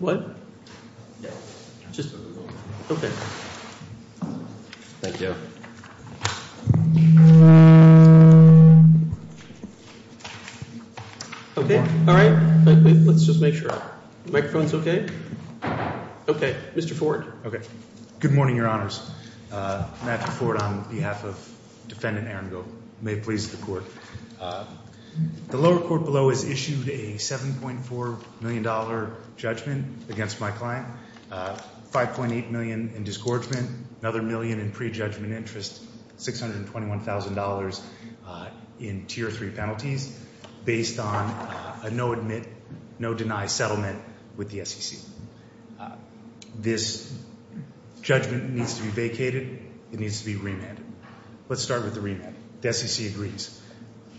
What? Okay. Thank you. Okay. All right. Let's just make sure. Microphone's okay? Okay. Mr. Ford. Okay. Good morning, Your Honors. Matthew Ford on behalf of Defendant Aaron Gov. May it please the Court. The lower court below has issued a $7.4 million judgment against my client. $5.8 million in disgorgement. Another million in prejudgment interest. $621,000 in Tier 3 penalties based on a no-admit, no-deny settlement with the SEC. This judgment needs to be vacated. It needs to be remanded. Let's start with the remand. The SEC agrees.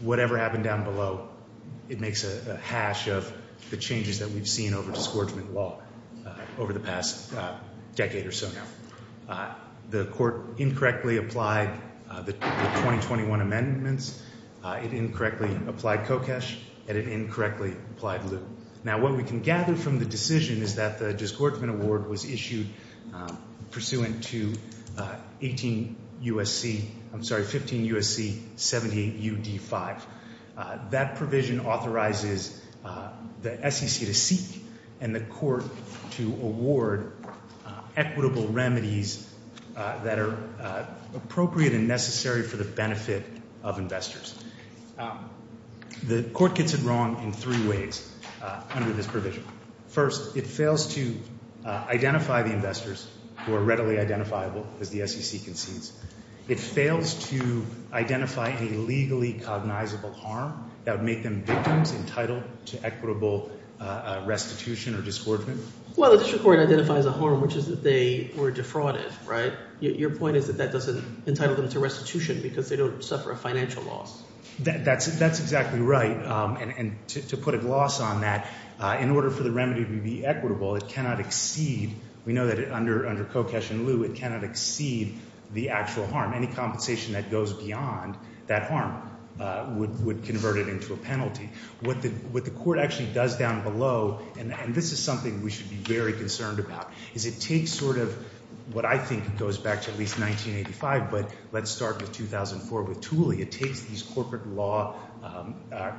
Whatever happened down below, it makes a hash of the changes that we've seen over disgorgement law over the past decade or so now. The Court incorrectly applied the 2021 amendments. It incorrectly applied COCESH, and it incorrectly applied LIU. Now, what we can gather from the decision is that the disgorgement award was issued pursuant to 18 U.S.C. I'm sorry, 15 U.S.C. 78 U.D. 5. That provision authorizes the SEC to seek and the Court to award equitable remedies that are appropriate and necessary for the benefit of investors. The Court gets it wrong in three ways under this provision. First, it fails to identify the investors who are readily identifiable as the SEC concedes. It fails to identify a legally cognizable harm that would make them victims entitled to equitable restitution or disgorgement. Well, the district court identifies a harm, which is that they were defrauded, right? Your point is that that doesn't entitle them to restitution because they don't suffer a financial loss. That's exactly right. And to put a gloss on that, in order for the remedy to be equitable, it cannot exceed. We know that under COCESH and LIU, it cannot exceed the actual harm. Any compensation that goes beyond that harm would convert it into a penalty. What the court actually does down below, and this is something we should be very concerned about, is it takes sort of what I think goes back to at least 1985, but let's start with 2004 with Tooley. It takes these corporate law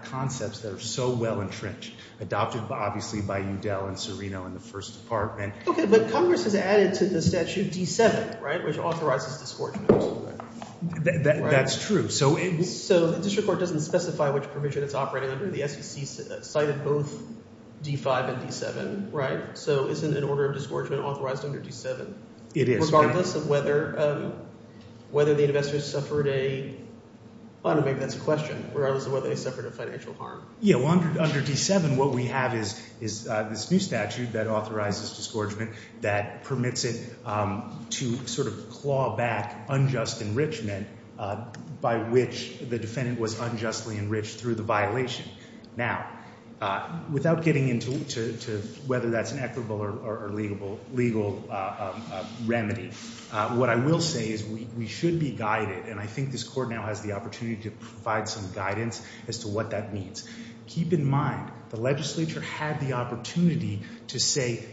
concepts that are so well entrenched, adopted obviously by Udell and Serino in the first department. Okay, but Congress has added to the statute D7, right, which authorizes disgorgement. That's true. So the district court doesn't specify which provision it's operating under. The SEC cited both D5 and D7, right? So isn't an order of disgorgement authorized under D7? It is. Regardless of whether the investors suffered a—well, maybe that's a question. Regardless of whether they suffered a financial harm. Yeah, well, under D7, what we have is this new statute that authorizes disgorgement that permits it to sort of claw back unjust enrichment by which the defendant was unjustly enriched through the violation. Now, without getting into whether that's an equitable or legal remedy, what I will say is we should be guided, and I think this court now has the opportunity to provide some guidance as to what that means. Keep in mind the legislature had the opportunity to say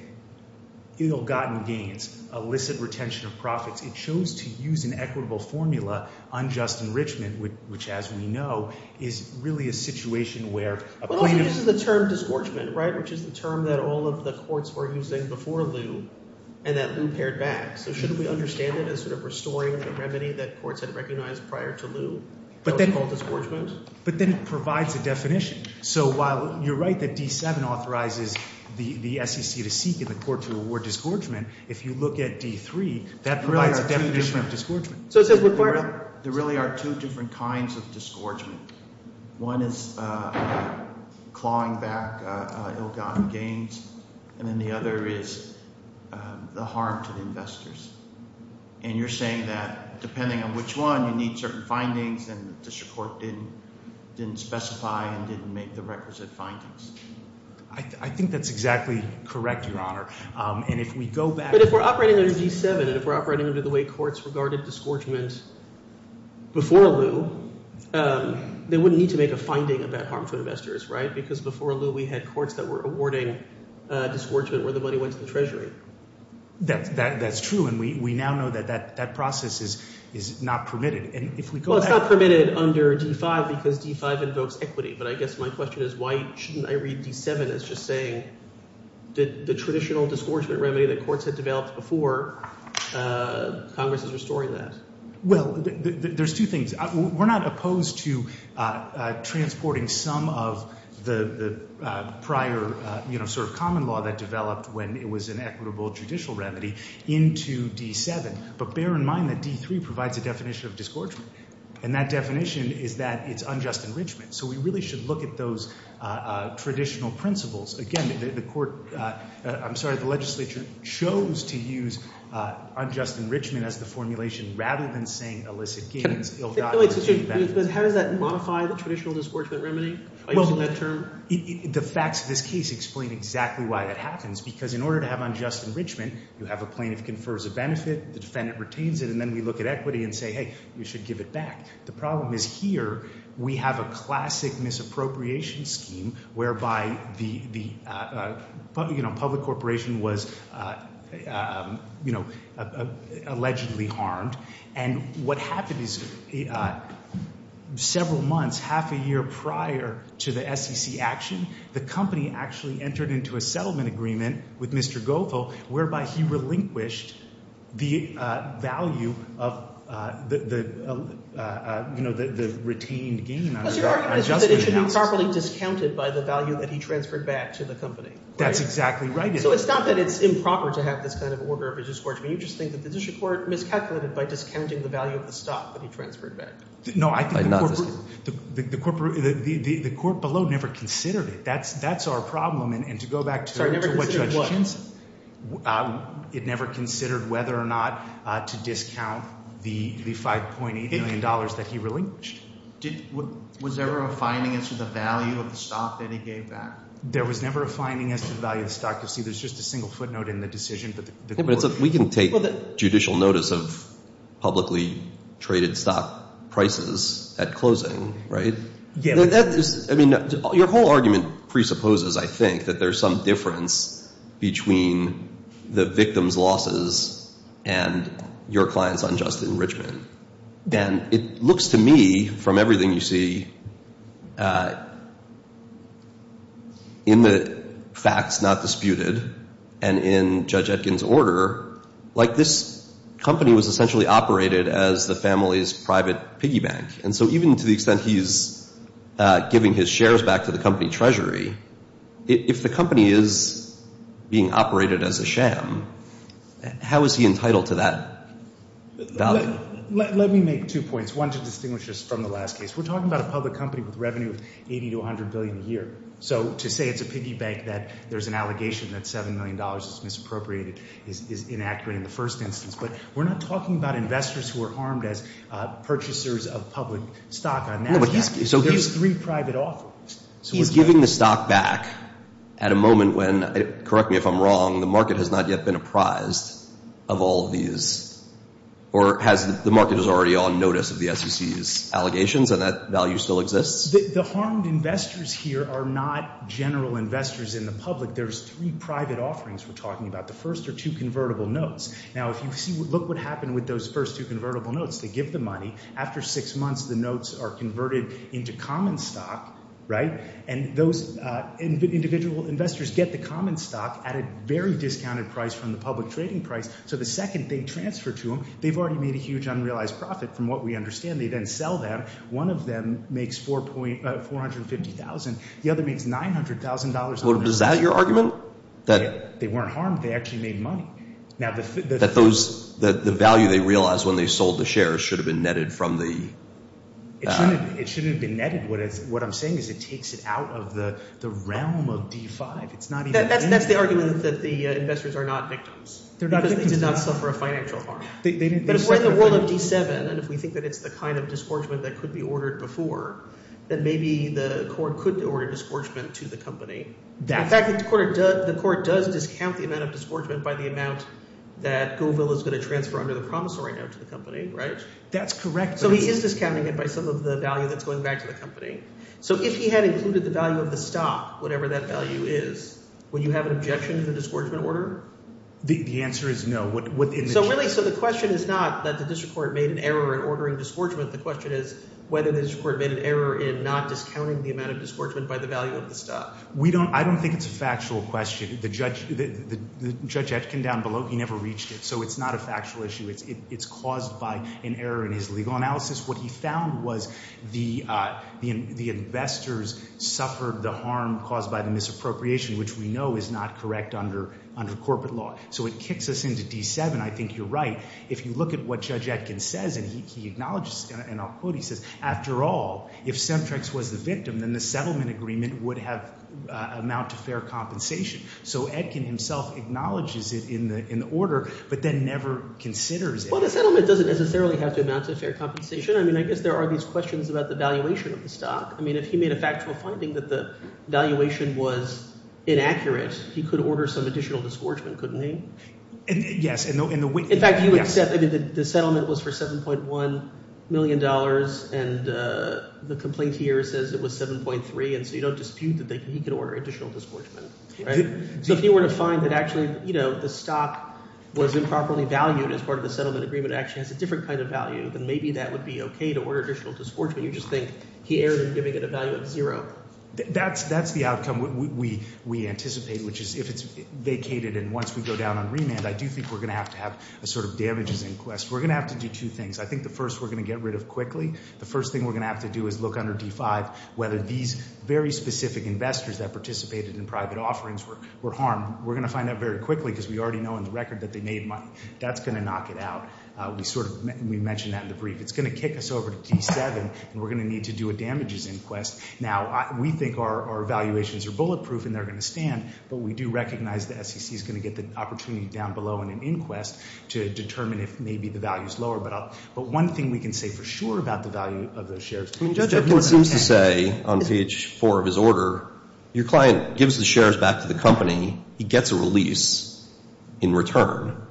ill-gotten gains, illicit retention of profits. It chose to use an equitable formula, unjust enrichment, which as we know is really a situation where a plaintiff— But also this is the term disgorgement, right, which is the term that all of the courts were using before Lew and that Lew pared back. So shouldn't we understand it as sort of restoring the remedy that courts had recognized prior to Lew called disgorgement? But then it provides a definition. So while you're right that D7 authorizes the SEC to seek and the court to award disgorgement, if you look at D3, that provides a definition of disgorgement. There really are two different kinds of disgorgement. One is clawing back ill-gotten gains, and then the other is the harm to the investors. And you're saying that depending on which one, you need certain findings and the district court didn't specify and didn't make the requisite findings. I think that's exactly correct, Your Honor. And if we go back— But if we're operating under D7 and if we're operating under the way courts regarded disgorgement before Lew, they wouldn't need to make a finding about harm to investors, right? Because before Lew, we had courts that were awarding disgorgement where the money went to the treasury. That's true, and we now know that that process is not permitted. And if we go back— Well, it's not permitted under D5 because D5 invokes equity. But I guess my question is why shouldn't I read D7 as just saying the traditional disgorgement remedy that courts had developed before Congress is restoring that? Well, there's two things. We're not opposed to transporting some of the prior sort of common law that developed when it was an equitable judicial remedy into D7. But bear in mind that D3 provides a definition of disgorgement, and that definition is that it's unjust enrichment. So we really should look at those traditional principles. Again, the court—I'm sorry, the legislature chose to use unjust enrichment as the formulation rather than saying illicit gains, ill-gotten— But how does that modify the traditional disgorgement remedy by using that term? Well, the facts of this case explain exactly why that happens because in order to have unjust enrichment, you have a plaintiff confers a benefit, the defendant retains it, and then we look at equity and say, hey, we should give it back. The problem is here we have a classic misappropriation scheme whereby the public corporation was allegedly harmed. And what happened is several months, half a year prior to the SEC action, the company actually entered into a settlement agreement with Mr. Goethal whereby he relinquished the value of the retained gain on adjustment houses. But your argument is that it should be properly discounted by the value that he transferred back to the company, right? That's exactly right. So it's not that it's improper to have this kind of order of disgorgement. You just think that the district court miscalculated by discounting the value of the stock that he transferred back. No, I think the court below never considered it. That's our problem. And to go back to what Judge Chinson— Sorry, never considered what? It never considered whether or not to discount the $5.8 million that he relinquished. Was there a refining as to the value of the stock that he gave back? There was never a refining as to the value of the stock. You'll see there's just a single footnote in the decision. Yeah, but we can take judicial notice of publicly traded stock prices at closing, right? Yeah. I mean, your whole argument presupposes, I think, that there's some difference between the victim's losses and your client's unjust enrichment. And it looks to me, from everything you see, in the facts not disputed and in Judge Etkin's order, like this company was essentially operated as the family's private piggy bank. And so even to the extent he's giving his shares back to the company treasury, if the company is being operated as a sham, how is he entitled to that value? Let me make two points. One, to distinguish us from the last case. We're talking about a public company with revenue of $80 to $100 billion a year. So to say it's a piggy bank, that there's an allegation that $7 million is misappropriated, is inaccurate in the first instance. But we're not talking about investors who are harmed as purchasers of public stock. There's three private authors. So we're giving the stock back at a moment when, correct me if I'm wrong, the market has not yet been apprised of all these, or the market is already on notice of the SEC's allegations and that value still exists? The harmed investors here are not general investors in the public. There's three private offerings we're talking about, the first are two convertible notes. Now, if you look what happened with those first two convertible notes, they give the money. After six months, the notes are converted into common stock, right? And those individual investors get the common stock at a very discounted price from the public trading price. So the second they transfer to them, they've already made a huge unrealized profit from what we understand. They then sell them. One of them makes $450,000. The other makes $900,000. Is that your argument? They weren't harmed. They actually made money. The value they realized when they sold the shares should have been netted from the— It shouldn't have been netted. What I'm saying is it takes it out of the realm of D5. That's the argument that the investors are not victims because they did not suffer a financial harm. But if we're in the world of D7 and if we think that it's the kind of disgorgement that could be ordered before, then maybe the court could order disgorgement to the company. In fact, the court does discount the amount of disgorgement by the amount that Goville is going to transfer under the promissory note to the company, right? That's correct. So he is discounting it by some of the value that's going back to the company. So if he had included the value of the stock, whatever that value is, would you have an objection to the disgorgement order? The answer is no. So really—so the question is not that the district court made an error in ordering disgorgement. The question is whether the district court made an error in not discounting the amount of disgorgement by the value of the stock. We don't—I don't think it's a factual question. Judge Etkin down below, he never reached it, so it's not a factual issue. It's caused by an error in his legal analysis. What he found was the investors suffered the harm caused by the misappropriation, which we know is not correct under corporate law. So it kicks us into D7. I think you're right. If you look at what Judge Etkin says, and he acknowledges—and I'll quote, he says, after all, if Semtrex was the victim, then the settlement agreement would have amount to fair compensation. So Etkin himself acknowledges it in the order but then never considers it. Well, the settlement doesn't necessarily have to amount to fair compensation. I mean I guess there are these questions about the valuation of the stock. I mean if he made a factual finding that the valuation was inaccurate, he could order some additional disgorgement, couldn't he? Yes. In fact, the settlement was for $7.1 million, and the complaint here says it was 7.3. And so you don't dispute that he could order additional disgorgement. So if he were to find that actually the stock was improperly valued as part of the settlement agreement, it actually has a different kind of value, then maybe that would be okay to order additional disgorgement. You just think he erred in giving it a value of zero. That's the outcome we anticipate, which is if it's vacated and once we go down on remand, I do think we're going to have to have a sort of damages inquest. We're going to have to do two things. I think the first we're going to get rid of quickly. The first thing we're going to have to do is look under D5 whether these very specific investors that participated in private offerings were harmed. We're going to find out very quickly because we already know in the record that they made money. That's going to knock it out. We sort of mentioned that in the brief. It's going to kick us over to D7, and we're going to need to do a damages inquest. Now, we think our evaluations are bulletproof and they're going to stand, but we do recognize the SEC is going to get the opportunity down below in an inquest to determine if maybe the value is lower. But one thing we can say for sure about the value of those shares is that he was content. I mean, Judge Epkin seems to say on page 4 of his order, your client gives the shares back to the company. He gets a release in return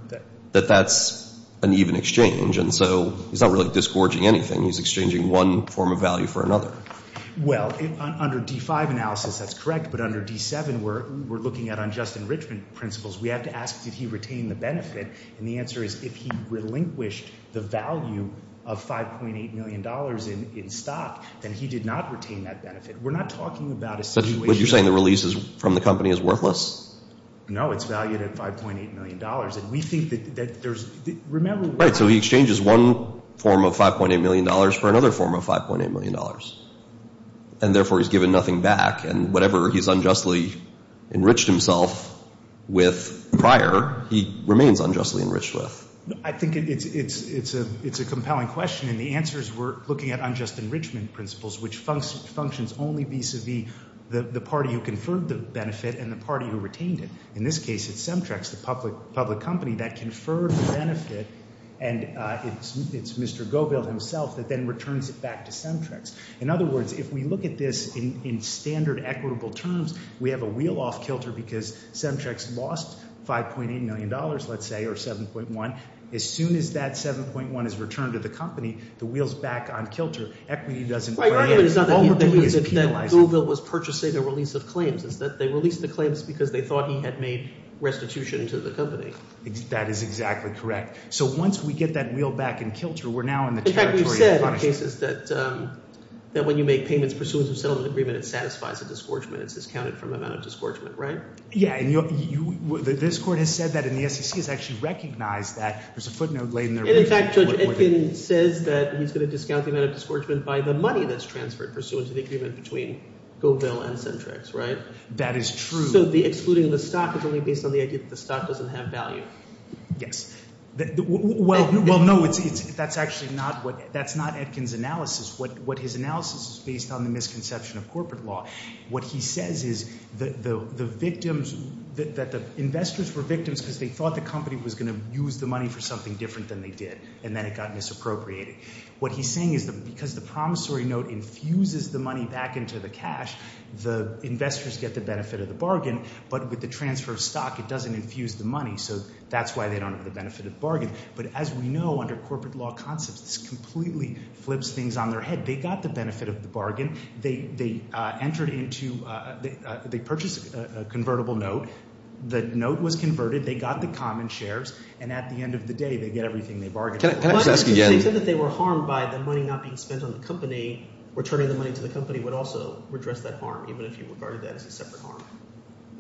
that that's an even exchange, and so he's not really disgorging anything. He's exchanging one form of value for another. Well, under D5 analysis, that's correct. But under D7, we're looking at unjust enrichment principles. We have to ask did he retain the benefit, and the answer is if he relinquished the value of $5.8 million in stock, then he did not retain that benefit. We're not talking about a situation. But you're saying the release from the company is worthless? No, it's valued at $5.8 million, and we think that there's – remember – Right, so he exchanges one form of $5.8 million for another form of $5.8 million, and therefore he's given nothing back. And whatever he's unjustly enriched himself with prior, he remains unjustly enriched with. I think it's a compelling question, and the answer is we're looking at unjust enrichment principles, which functions only vis-a-vis the party who conferred the benefit and the party who retained it. In this case, it's Semtrex, the public company that conferred the benefit, and it's Mr. Goebbels himself that then returns it back to Semtrex. In other words, if we look at this in standard equitable terms, we have a wheel off kilter because Semtrex lost $5.8 million, let's say, or $7.1. As soon as that $7.1 is returned to the company, the wheel is back on kilter. Equity doesn't weigh in. All we're doing is penalizing. The reason that Goebbels was purchasing the release of claims is that they released the claims because they thought he had made restitution to the company. That is exactly correct. So once we get that wheel back in kilter, we're now in the territory of punishment. In fact, we've said in cases that when you make payments pursuant to the settlement agreement, it satisfies a disgorgement. It's discounted from the amount of disgorgement, right? Yeah, and this Court has said that, and the SEC has actually recognized that. There's a footnote laid in there. In fact, Judge Edkin says that he's going to discount the amount of disgorgement by the money that's transferred pursuant to the agreement between Goebbels and Centrix, right? That is true. So the excluding of the stock is only based on the idea that the stock doesn't have value? Yes. Well, no, that's actually not Edkin's analysis. What his analysis is based on is the misconception of corporate law. What he says is that the victims, that the investors were victims because they thought the company was going to use the money for something different than they did, and then it got misappropriated. What he's saying is that because the promissory note infuses the money back into the cash, the investors get the benefit of the bargain, but with the transfer of stock, it doesn't infuse the money, so that's why they don't have the benefit of the bargain. But as we know, under corporate law concepts, this completely flips things on their head. They got the benefit of the bargain. They entered into – they purchased a convertible note. The note was converted. They got the common shares, and at the end of the day, they get everything they bargained for. Can I just ask again? They said that they were harmed by the money not being spent on the company. Returning the money to the company would also redress that harm, even if you regarded that as a separate harm.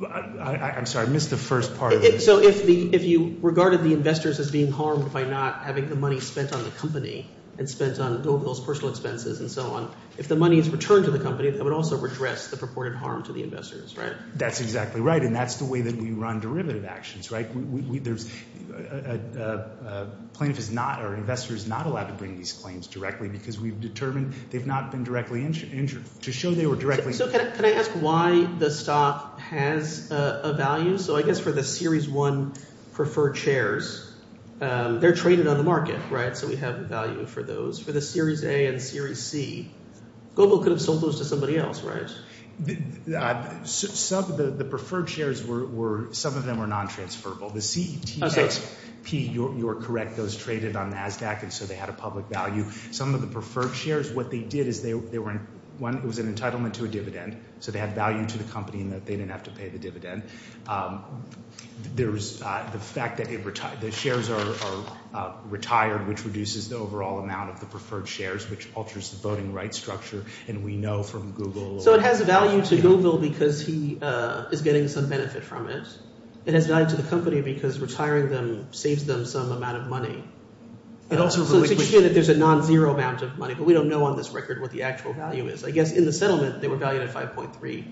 I'm sorry. I missed the first part of it. So if you regarded the investors as being harmed by not having the money spent on the company and spent on those personal expenses and so on, if the money is returned to the company, that would also redress the purported harm to the investors, right? That's exactly right, and that's the way that we run derivative actions, right? A plaintiff is not – or an investor is not allowed to bring these claims directly because we've determined they've not been directly – to show they were directly – So can I ask why the stock has a value? So I guess for the Series 1 preferred shares, they're traded on the market, right? So we have value for those. For the Series A and Series C, Gobo could have sold those to somebody else, right? Some of the preferred shares were – some of them were non-transferable. The CETXP, you're correct, those traded on NASDAQ, and so they had a public value. Some of the preferred shares, what they did is they were – one, it was an entitlement to a dividend, so they had value to the company in that they didn't have to pay the dividend. There was the fact that the shares are retired, which reduces the overall amount of the preferred shares, which alters the voting rights structure, and we know from Google. So it has value to Gobo because he is getting some benefit from it. It has value to the company because retiring them saves them some amount of money. It also – So it's a good thing that there's a non-zero amount of money, but we don't know on this record what the actual value is. I guess in the settlement, they were valued at $5.3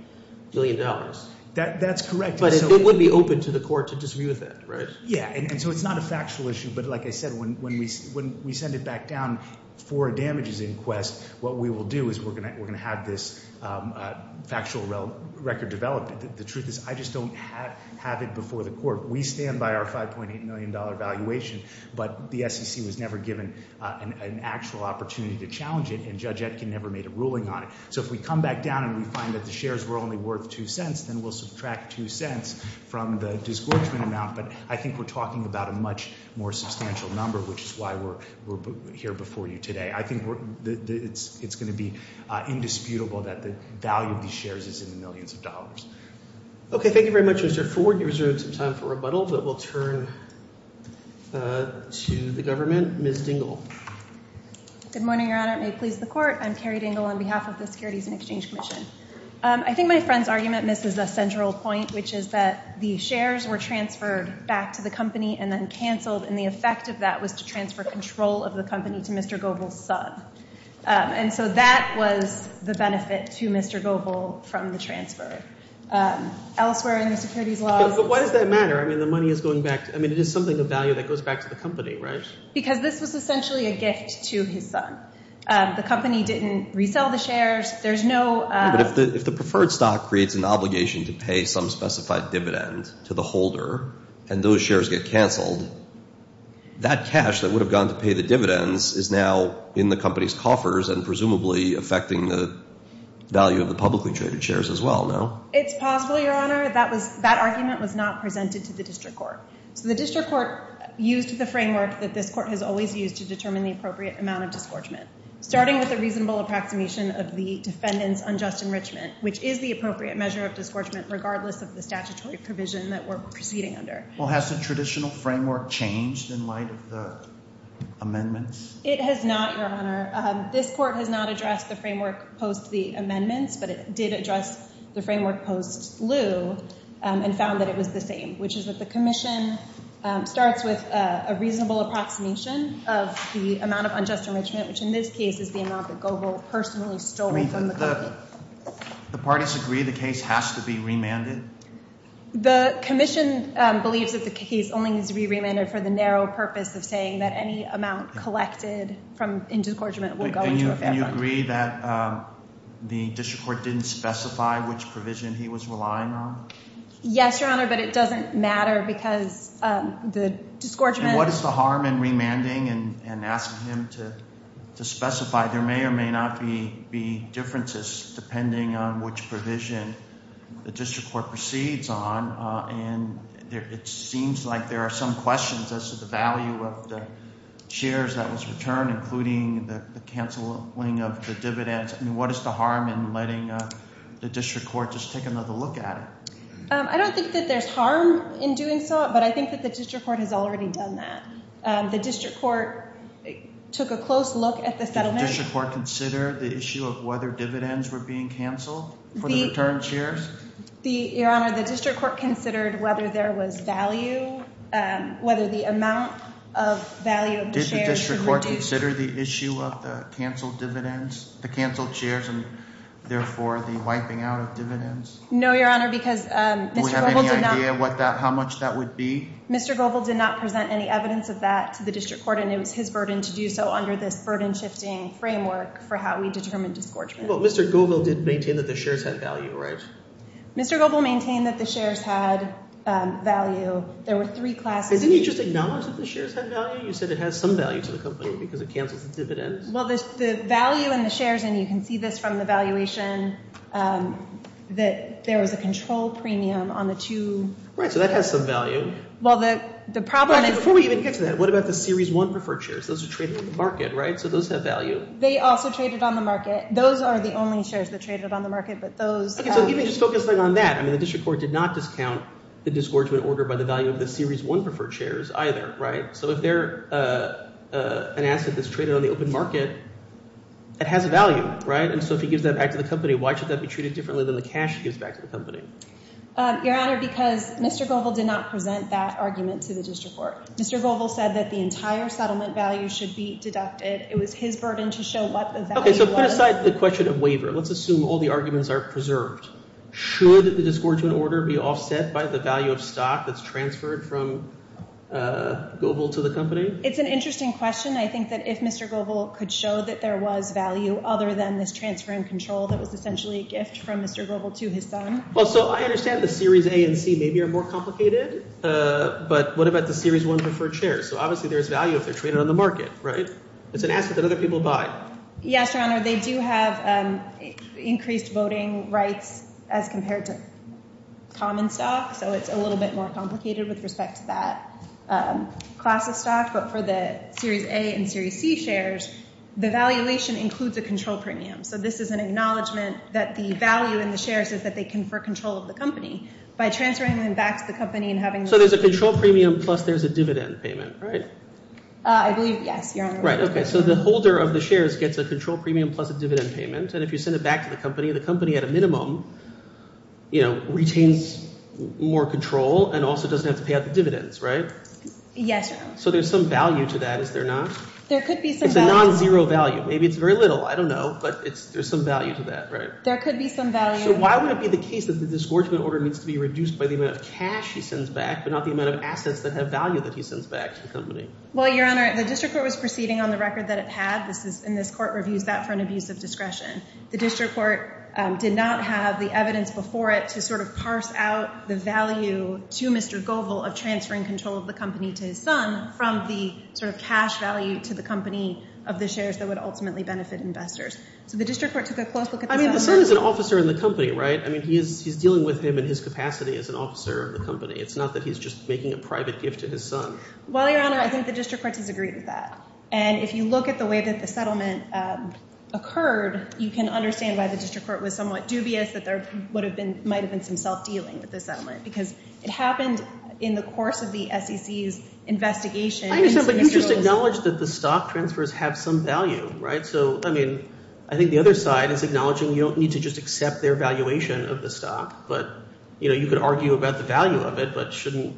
billion. That's correct. But it would be open to the court to dispute that, right? Yeah, and so it's not a factual issue, but like I said, when we send it back down for damages in Quest, what we will do is we're going to have this factual record developed. The truth is I just don't have it before the court. We stand by our $5.8 million valuation, but the SEC was never given an actual opportunity to challenge it, and Judge Etkin never made a ruling on it. So if we come back down and we find that the shares were only worth $0.02, then we'll subtract $0.02 from the disgorgement amount, but I think we're talking about a much more substantial number, which is why we're here before you today. I think it's going to be indisputable that the value of these shares is in the millions of dollars. Okay, thank you very much, Mr. Ford. You have some time for rebuttal, but we'll turn to the government. Ms. Dingell. Good morning, Your Honor. It may please the court. I'm Carrie Dingell on behalf of the Securities and Exchange Commission. I think my friend's argument misses a central point, which is that the shares were transferred back to the company and then canceled, and the effect of that was to transfer control of the company to Mr. Goebel's son. And so that was the benefit to Mr. Goebel from the transfer. Elsewhere in the securities laws— But why does that matter? I mean, the money is going back—I mean, it is something of value that goes back to the company, right? Because this was essentially a gift to his son. The company didn't resell the shares. There's no— But if the preferred stock creates an obligation to pay some specified dividend to the holder and those shares get canceled, that cash that would have gone to pay the dividends is now in the company's coffers and presumably affecting the value of the publicly traded shares as well, no? It's possible, Your Honor. That argument was not presented to the district court. So the district court used the framework that this court has always used to determine the appropriate amount of disgorgement, starting with a reasonable approximation of the defendant's unjust enrichment, which is the appropriate measure of disgorgement regardless of the statutory provision that we're proceeding under. Well, has the traditional framework changed in light of the amendments? It has not, Your Honor. This court has not addressed the framework post the amendments, but it did address the framework post Lew and found that it was the same, which is that the commission starts with a reasonable approximation of the amount of unjust enrichment, which in this case is the amount that Goebbels personally stole from the company. The parties agree the case has to be remanded? The commission believes that the case only needs to be remanded for the narrow purpose of saying that any amount collected in disgorgement will go into a fair bond. And you agree that the district court didn't specify which provision he was relying on? Yes, Your Honor, but it doesn't matter because the disgorgement— And what is the harm in remanding and asking him to specify? There may or may not be differences depending on which provision the district court proceeds on, and it seems like there are some questions as to the value of the shares that was returned, including the canceling of the dividends. I mean, what is the harm in letting the district court just take another look at it? I don't think that there's harm in doing so, but I think that the district court has already done that. The district court took a close look at the settlement— Did the district court consider the issue of whether dividends were being canceled for the returned shares? Your Honor, the district court considered whether there was value, whether the amount of value of the shares— Did the district court consider the issue of the canceled dividends, the canceled shares, and therefore the wiping out of dividends? No, Your Honor, because Mr. Goebel did not— Do we have any idea what that—how much that would be? Mr. Goebel did not present any evidence of that to the district court, and it was his burden to do so under this burden-shifting framework for how we determine disgorgement. But Mr. Goebel did maintain that the shares had value, right? Mr. Goebel maintained that the shares had value. There were three classes— And didn't he just acknowledge that the shares had value? You said it has some value to the company because it cancels the dividends. Well, the value in the shares—and you can see this from the valuation—that there was a control premium on the two— Right, so that has some value. Well, the problem is— Before we even get to that, what about the Series 1 preferred shares? Those are traded on the market, right? So those have value? They also traded on the market. Those are the only shares that traded on the market, but those— Okay, so even just focusing on that, I mean, the district court did not discount the disgorgement order by the value of the Series 1 preferred shares either, right? So if they're an asset that's traded on the open market, it has value, right? And so if he gives that back to the company, why should that be treated differently than the cash he gives back to the company? Your Honor, because Mr. Goebel did not present that argument to the district court. Mr. Goebel said that the entire settlement value should be deducted. It was his burden to show what the value was. Okay, so put aside the question of waiver. Let's assume all the arguments are preserved. Should the disgorgement order be offset by the value of stock that's transferred from Goebel to the company? It's an interesting question. I think that if Mr. Goebel could show that there was value other than this transfer in control that was essentially a gift from Mr. Goebel to his son— Well, so I understand the Series A and C maybe are more complicated, but what about the Series 1 preferred shares? So obviously there's value if they're traded on the market, right? It's an asset that other people buy. Yes, Your Honor. They do have increased voting rights as compared to common stock, so it's a little bit more complicated with respect to that class of stock. But for the Series A and Series C shares, the valuation includes a control premium. So this is an acknowledgment that the value in the shares is that they confer control of the company. By transferring them back to the company and having— So there's a control premium plus there's a dividend payment, right? I believe—yes, Your Honor. Right, okay. So the holder of the shares gets a control premium plus a dividend payment, and if you send it back to the company, the company at a minimum retains more control and also doesn't have to pay out the dividends, right? Yes, Your Honor. So there's some value to that, is there not? There could be some value. It's a nonzero value. Maybe it's very little. I don't know, but there's some value to that, right? There could be some value. So why would it be the case that the disgorgement order needs to be reduced by the amount of cash he sends back but not the amount of assets that have value that he sends back to the company? Well, Your Honor, the district court was proceeding on the record that it had, and this court reviews that for an abuse of discretion. The district court did not have the evidence before it to sort of parse out the value to Mr. Goebel of transferring control of the company to his son from the sort of cash value to the company of the shares that would ultimately benefit investors. So the district court took a close look at this— I mean, the son is an officer in the company, right? I mean, he's dealing with him in his capacity as an officer of the company. It's not that he's just making a private gift to his son. Well, Your Honor, I think the district court disagrees with that. And if you look at the way that the settlement occurred, you can understand why the district court was somewhat dubious that there might have been some self-dealing with the settlement because it happened in the course of the SEC's investigation into Mr. Goebel's— I understand, but you just acknowledged that the stock transfers have some value, right? So, I mean, I think the other side is acknowledging you don't need to just accept their valuation of the stock, but you could argue about the value of it, but shouldn't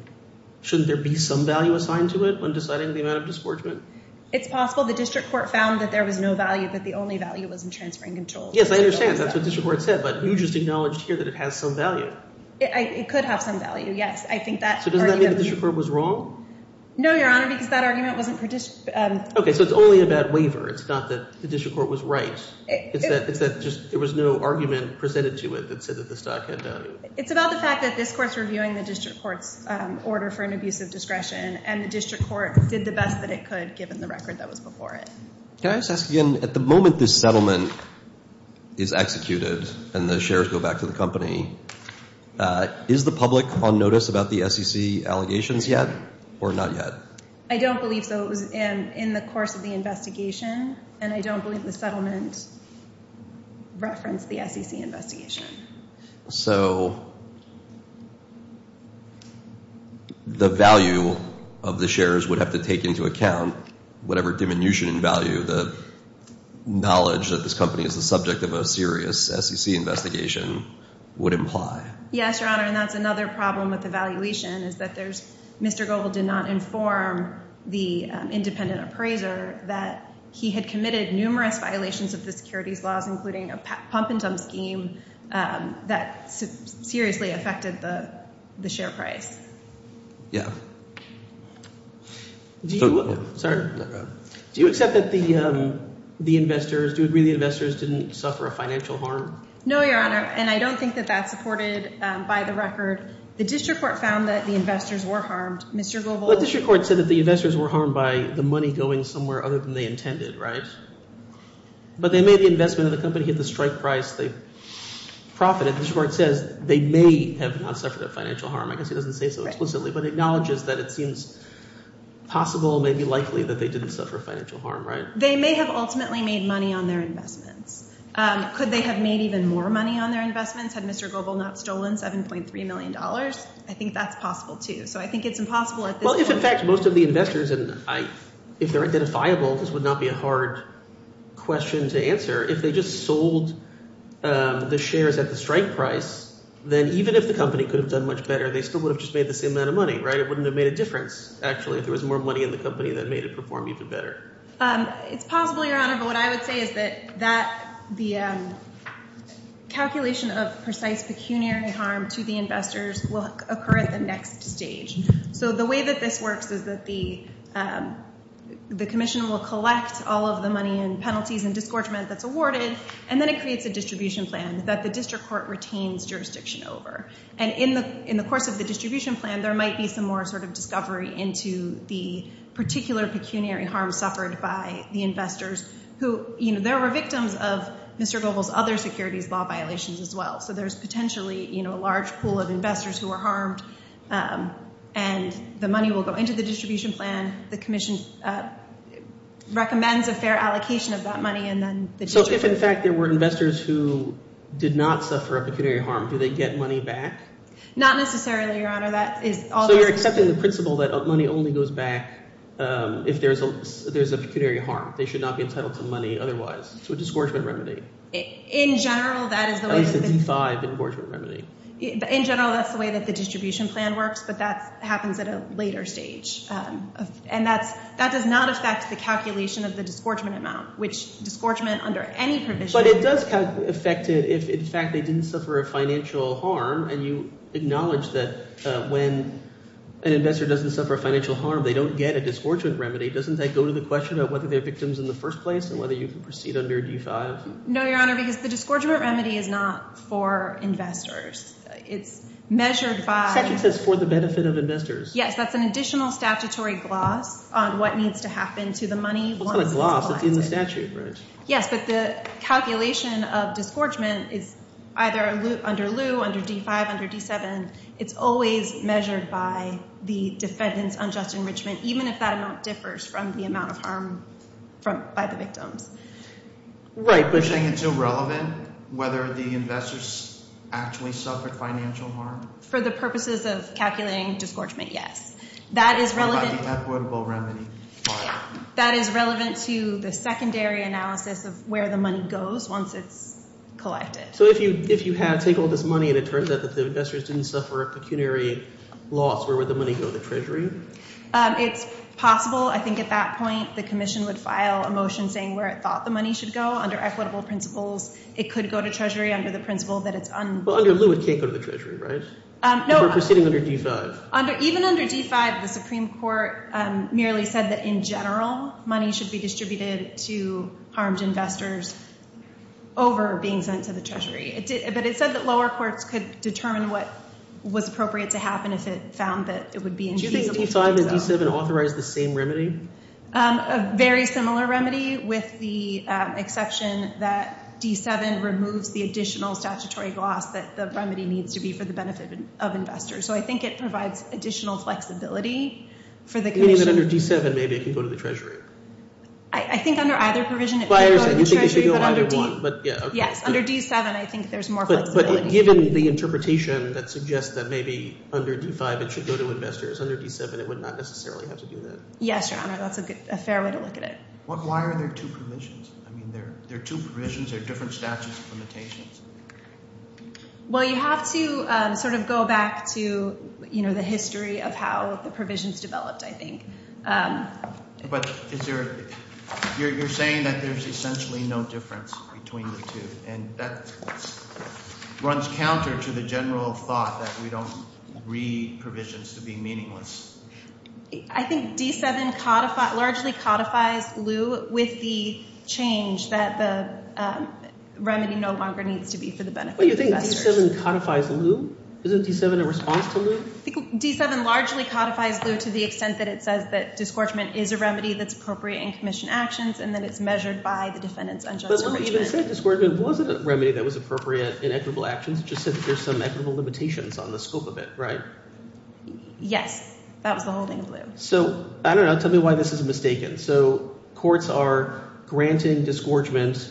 there be some value assigned to it when deciding the amount of disgorgement? It's possible the district court found that there was no value, that the only value was in transferring control. Yes, I understand. That's what the district court said, but you just acknowledged here that it has some value. It could have some value, yes. I think that argument— So does that mean the district court was wrong? No, Your Honor, because that argument wasn't— Okay, so it's only a bad waiver. It's not that the district court was right. It's that just there was no argument presented to it that said that the stock had value. It's about the fact that this court is reviewing the district court's order for an abuse of discretion, and the district court did the best that it could given the record that was before it. Can I just ask again, at the moment this settlement is executed and the shares go back to the company, is the public on notice about the SEC allegations yet or not yet? I don't believe so. It was in the course of the investigation, and I don't believe the settlement referenced the SEC investigation. So the value of the shares would have to take into account whatever diminution in value the knowledge that this company is the subject of a serious SEC investigation would imply? Yes, Your Honor, and that's another problem with the valuation is that there's—Mr. Goble did not inform the independent appraiser that he had committed numerous violations of the securities laws, including a pump-and-dump scheme that seriously affected the share price. Yeah. Do you—sorry. Go ahead. Do you accept that the investors—do you agree the investors didn't suffer a financial harm? No, Your Honor, and I don't think that that's supported by the record. The district court found that the investors were harmed. Mr. Goble— Well, the district court said that the investors were harmed by the money going somewhere other than they intended, right? But they made the investment in the company at the strike price. They profited. The district court says they may have not suffered a financial harm. I guess it doesn't say so explicitly, but it acknowledges that it seems possible, maybe likely, that they didn't suffer financial harm, right? They may have ultimately made money on their investments. Could they have made even more money on their investments had Mr. Goble not stolen $7.3 million? I think that's possible too, so I think it's impossible at this point. Well, if in fact most of the investors—and if they're identifiable, this would not be a hard question to answer. If they just sold the shares at the strike price, then even if the company could have done much better, they still would have just made the same amount of money, right? It wouldn't have made a difference actually if there was more money in the company that made it perform even better. It's possible, Your Honor, but what I would say is that the calculation of precise pecuniary harm to the investors will occur at the next stage. So the way that this works is that the commission will collect all of the money and penalties and disgorgement that's awarded, and then it creates a distribution plan that the district court retains jurisdiction over. And in the course of the distribution plan, there might be some more sort of discovery into the particular pecuniary harm suffered by the investors who— there were victims of Mr. Goble's other securities law violations as well. So there's potentially a large pool of investors who were harmed, and the money will go into the distribution plan. The commission recommends a fair allocation of that money, and then the district— Not necessarily, Your Honor. That is— So you're accepting the principle that money only goes back if there's a pecuniary harm. They should not be entitled to money otherwise. So a disgorgement remedy. In general, that is the way— At least a D-5 engorgement remedy. In general, that's the way that the distribution plan works, but that happens at a later stage. And that does not affect the calculation of the disgorgement amount, which disgorgement under any provision— Your Honor, you acknowledge that when an investor doesn't suffer financial harm, they don't get a disgorgement remedy. Doesn't that go to the question of whether they're victims in the first place and whether you can proceed under a D-5? No, Your Honor, because the disgorgement remedy is not for investors. It's measured by— Statute says for the benefit of investors. Yes, that's an additional statutory gloss on what needs to happen to the money once it's allotted. It's not a gloss. It's in the statute, right? Yes, but the calculation of disgorgement is either under lieu, under D-5, under D-7. It's always measured by the defendant's unjust enrichment, even if that amount differs from the amount of harm by the victims. Right, but— You're saying it's irrelevant whether the investors actually suffered financial harm? For the purposes of calculating disgorgement, yes. That is relevant— What about the equitable remedy? That is relevant to the secondary analysis of where the money goes once it's collected. So if you take all this money and it turns out that the investors didn't suffer a pecuniary loss, where would the money go? The Treasury? It's possible. I think at that point the commission would file a motion saying where it thought the money should go. Under equitable principles, it could go to Treasury under the principle that it's— Well, under lieu, it can't go to the Treasury, right? No— We're proceeding under D-5. Even under D-5, the Supreme Court merely said that in general money should be distributed to harmed investors over being sent to the Treasury. But it said that lower courts could determine what was appropriate to happen if it found that it would be infeasible to do so. Do you think D-5 and D-7 authorized the same remedy? A very similar remedy with the exception that D-7 removes the additional statutory loss that the remedy needs to be for the benefit of investors. So I think it provides additional flexibility for the commission— You mean that under D-7 maybe it can go to the Treasury? I think under either provision it could go to the Treasury, but under D— You think it should go under D? Yes, under D-7 I think there's more flexibility. But given the interpretation that suggests that maybe under D-5 it should go to investors, under D-7 it would not necessarily have to do that. Yes, Your Honor. That's a fair way to look at it. Why are there two provisions? I mean there are two provisions. There are different statutes of limitations. Well, you have to sort of go back to the history of how the provisions developed, I think. But you're saying that there's essentially no difference between the two, and that runs counter to the general thought that we don't read provisions to be meaningless. I think D-7 largely codifies Leu with the change that the remedy no longer needs to be for the benefit of investors. But you think D-7 codifies Leu? Isn't D-7 a response to Leu? I think D-7 largely codifies Leu to the extent that it says that disgorgement is a remedy that's appropriate in commission actions, and that it's measured by the defendant's unjust— But when you said disgorgement, it wasn't a remedy that was appropriate in equitable actions. It just said that there's some equitable limitations on the scope of it, right? Yes. That was the holding of Leu. So I don't know. Tell me why this is mistaken. So courts are granting disgorgement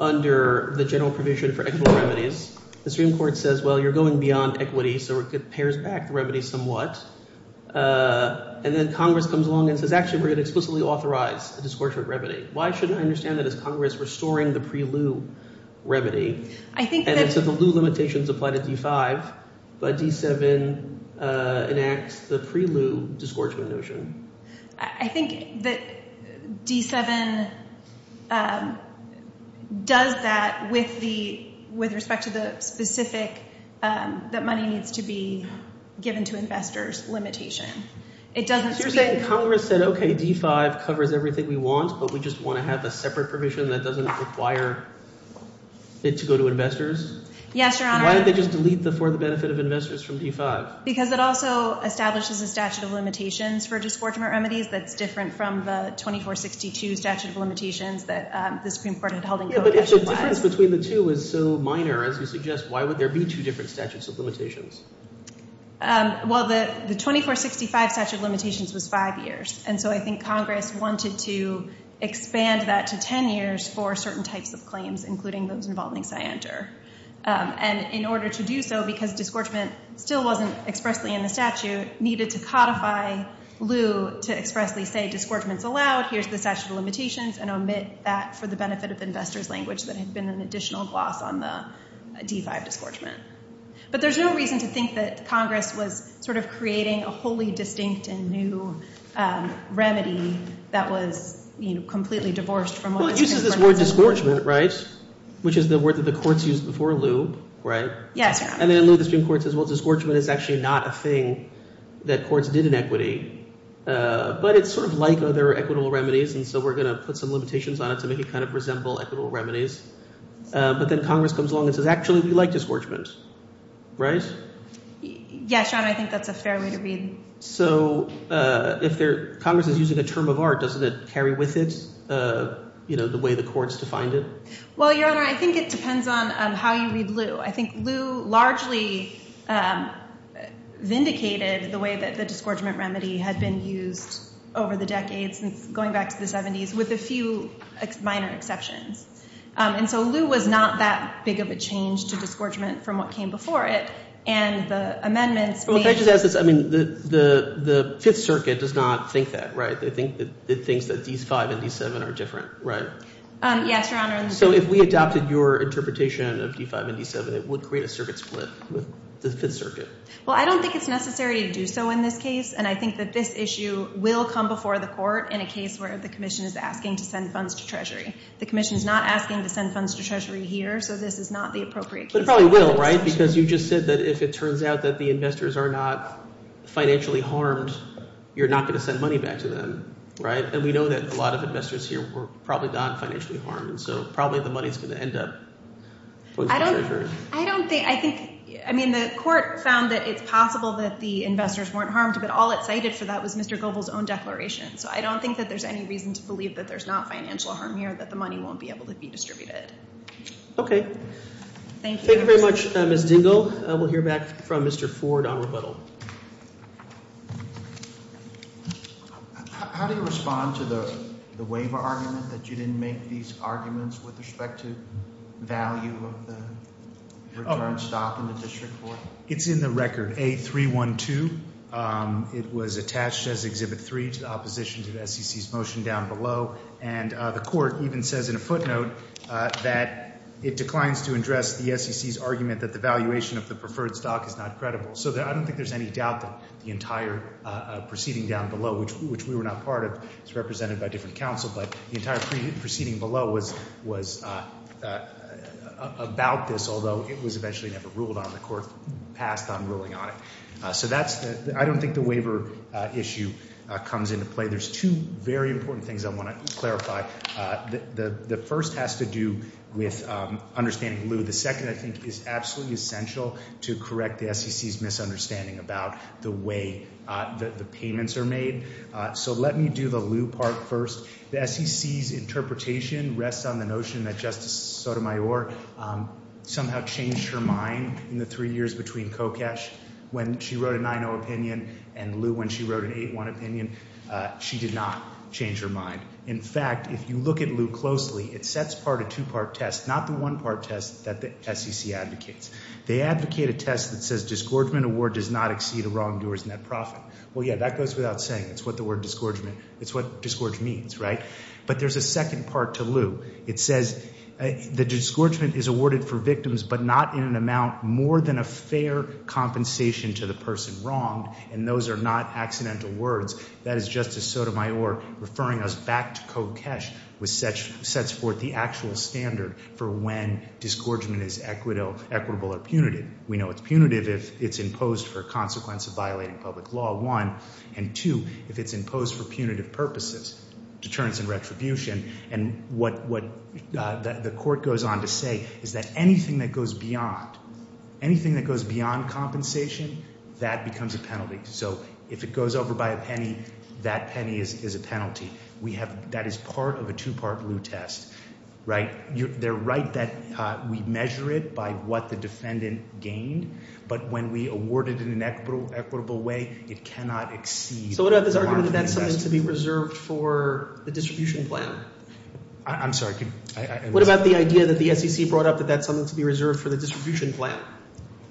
under the general provision for equitable remedies. The Supreme Court says, well, you're going beyond equity, so it pairs back the remedy somewhat. And then Congress comes along and says, actually, we're going to explicitly authorize a disgorgement remedy. Why shouldn't I understand that as Congress restoring the pre-Leu remedy? And then so the Leu limitations apply to D-5, but D-7 enacts the pre-Leu disgorgement notion. I think that D-7 does that with the – with respect to the specific that money needs to be given to investors limitation. So you're saying Congress said, OK, D-5 covers everything we want, but we just want to have a separate provision that doesn't require it to go to investors? Yes, Your Honor. Why did they just delete the for the benefit of investors from D-5? Because it also establishes a statute of limitations for disgorgement remedies that's different from the 2462 statute of limitations that the Supreme Court had held in code. Yeah, but if the difference between the two is so minor, as you suggest, why would there be two different statutes of limitations? Well, the 2465 statute of limitations was five years, and so I think Congress wanted to expand that to 10 years for certain types of claims, including those involving Cyanter. And in order to do so, because disgorgement still wasn't expressly in the statute, needed to codify Leu to expressly say disgorgement's allowed, here's the statute of limitations, and omit that for the benefit of investors language that had been an additional gloss on the D-5 disgorgement. But there's no reason to think that Congress was sort of creating a wholly distinct and new remedy that was completely divorced from what the Supreme Court has in place. Well, it uses this word disgorgement, right, which is the word that the courts used before Leu, right? Yes, Your Honor. And then Leu, the Supreme Court says, well, disgorgement is actually not a thing that courts did in equity. But it's sort of like other equitable remedies, and so we're going to put some limitations on it to make it kind of resemble equitable remedies. But then Congress comes along and says, actually, we like disgorgement, right? Yes, Your Honor, I think that's a fair way to read it. So if Congress is using a term of art, doesn't it carry with it the way the courts defined it? Well, Your Honor, I think it depends on how you read Leu. I think Leu largely vindicated the way that the disgorgement remedy had been used over the decades, going back to the 70s, with a few minor exceptions. And so Leu was not that big of a change to disgorgement from what came before it. And the amendments made — Well, can I just ask this? I mean, the Fifth Circuit does not think that, right? They think that D-5 and D-7 are different, right? Yes, Your Honor. So if we adopted your interpretation of D-5 and D-7, it would create a circuit split with the Fifth Circuit? Well, I don't think it's necessary to do so in this case, and I think that this issue will come before the court in a case where the commission is asking to send funds to Treasury. The commission is not asking to send funds to Treasury here, so this is not the appropriate case. But it probably will, right? Because you just said that if it turns out that the investors are not financially harmed, you're not going to send money back to them, right? And we know that a lot of investors here were probably not financially harmed, so probably the money is going to end up going to Treasury. I don't think — I think — I mean, the court found that it's possible that the investors weren't harmed, but all it cited for that was Mr. Goebel's own declaration. So I don't think that there's any reason to believe that there's not financial harm here, that the money won't be able to be distributed. Okay. Thank you. Thank you very much, Ms. Dingell. We'll hear back from Mr. Ford on rebuttal. How do you respond to the waiver argument that you didn't make these arguments with respect to value of the return stock in the district court? It's in the record, A312. It was attached as Exhibit 3 to the opposition to the SEC's motion down below. And the court even says in a footnote that it declines to address the SEC's argument that the valuation of the preferred stock is not credible. So I don't think there's any doubt that the entire proceeding down below, which we were not part of, is represented by different counsel. But the entire proceeding below was about this, although it was eventually never ruled on. The court passed on ruling on it. So that's — I don't think the waiver issue comes into play. There's two very important things I want to clarify. The first has to do with understanding Lew. The second, I think, is absolutely essential to correct the SEC's misunderstanding about the way the payments are made. So let me do the Lew part first. The SEC's interpretation rests on the notion that Justice Sotomayor somehow changed her mind in the three years between Kokesh when she wrote a 9-0 opinion and Lew when she wrote an 8-1 opinion. She did not change her mind. In fact, if you look at Lew closely, it sets part a two-part test, not the one-part test that the SEC advocates. They advocate a test that says disgorgement award does not exceed a wrongdoer's net profit. Well, yeah, that goes without saying. That's what the word disgorgement — that's what disgorge means, right? But there's a second part to Lew. It says the disgorgement is awarded for victims but not in an amount more than a fair compensation to the person wronged, and those are not accidental words. That is Justice Sotomayor referring us back to Kokesh, which sets forth the actual standard for when disgorgement is equitable or punitive. We know it's punitive if it's imposed for a consequence of violating public law, one, and two, if it's imposed for punitive purposes, deterrence and retribution. And what the court goes on to say is that anything that goes beyond, anything that goes beyond compensation, that becomes a penalty. So if it goes over by a penny, that penny is a penalty. We have — that is part of a two-part Lew test, right? They're right that we measure it by what the defendant gained, but when we award it in an equitable way, it cannot exceed the mark of the test. So what about this argument that that's something to be reserved for the distribution plan? I'm sorry. What about the idea that the SEC brought up that that's something to be reserved for the distribution plan,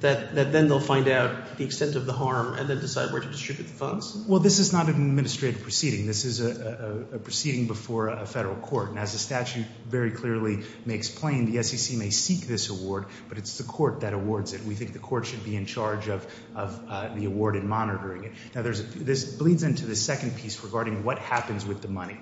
that then they'll find out the extent of the harm and then decide where to distribute the funds? Well, this is not an administrative proceeding. This is a proceeding before a federal court, and as the statute very clearly may explain, the SEC may seek this award, but it's the court that awards it. We think the court should be in charge of the award and monitoring it. Now, there's a — this bleeds into the second piece regarding what happens with the money.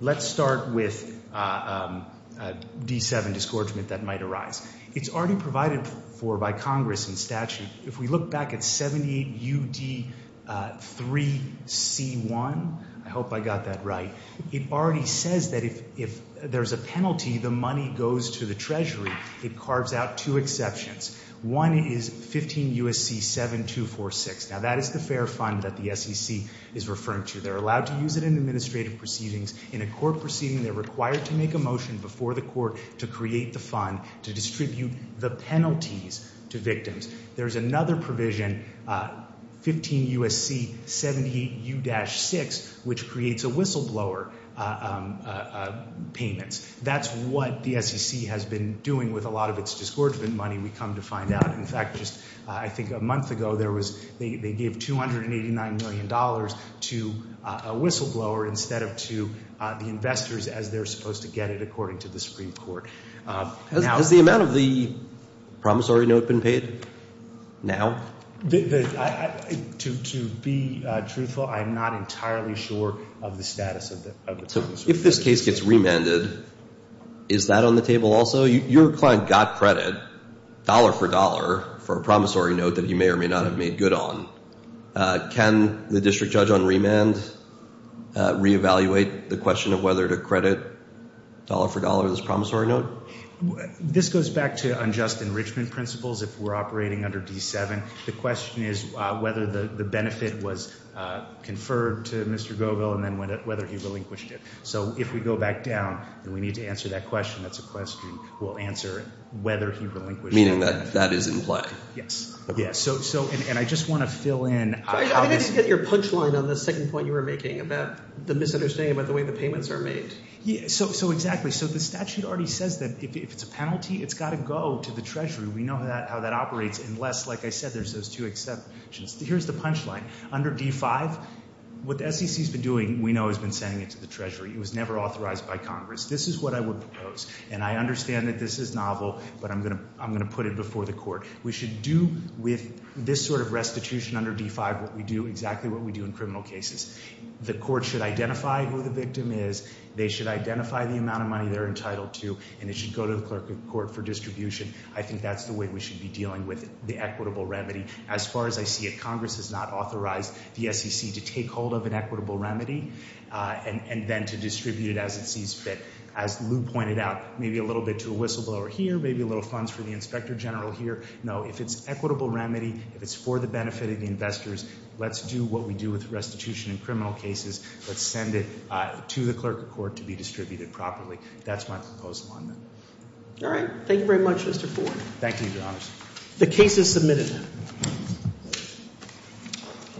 Let's start with D7 disgorgement that might arise. It's already provided for by Congress in statute. If we look back at 78UD3C1 — I hope I got that right — it already says that if there's a penalty, the money goes to the Treasury. It carves out two exceptions. One is 15 U.S.C. 7246. Now, that is the fair fund that the SEC is referring to. They're allowed to use it in administrative proceedings. In a court proceeding, they're required to make a motion before the court to create the fund to distribute the penalties to victims. There's another provision, 15 U.S.C. 78U-6, which creates a whistleblower payments. That's what the SEC has been doing with a lot of its disgorgement money we come to find out. In fact, just I think a month ago, there was — they gave $289 million to a whistleblower instead of to the investors as they're supposed to get it, according to the Supreme Court. Has the amount of the promissory note been paid now? To be truthful, I'm not entirely sure of the status of the — If this case gets remanded, is that on the table also? So your client got credit dollar for dollar for a promissory note that he may or may not have made good on. Can the district judge on remand reevaluate the question of whether to credit dollar for dollar this promissory note? This goes back to unjust enrichment principles if we're operating under D-7. The question is whether the benefit was conferred to Mr. Govill and then whether he relinquished it. So if we go back down and we need to answer that question, that's a question we'll answer whether he relinquished it. Meaning that that is in play. Yes. And I just want to fill in — I didn't get your punchline on the second point you were making about the misunderstanding about the way the payments are made. So exactly. So the statute already says that if it's a penalty, it's got to go to the Treasury. We know how that operates unless, like I said, there's those two exceptions. Here's the punchline. Under D-5, what the SEC's been doing, we know, has been sending it to the Treasury. It was never authorized by Congress. This is what I would propose. And I understand that this is novel, but I'm going to put it before the court. We should do with this sort of restitution under D-5 what we do — exactly what we do in criminal cases. The court should identify who the victim is. They should identify the amount of money they're entitled to. And it should go to the clerk of court for distribution. I think that's the way we should be dealing with the equitable remedy. As far as I see it, Congress has not authorized the SEC to take hold of an equitable remedy and then to distribute it as it sees fit. As Lou pointed out, maybe a little bit to a whistleblower here, maybe a little funds for the inspector general here. No. If it's equitable remedy, if it's for the benefit of the investors, let's do what we do with restitution in criminal cases. Let's send it to the clerk of court to be distributed properly. That's my proposal on that. All right. Thank you very much, Mr. Ford. Thank you, Your Honors. The case is submitted.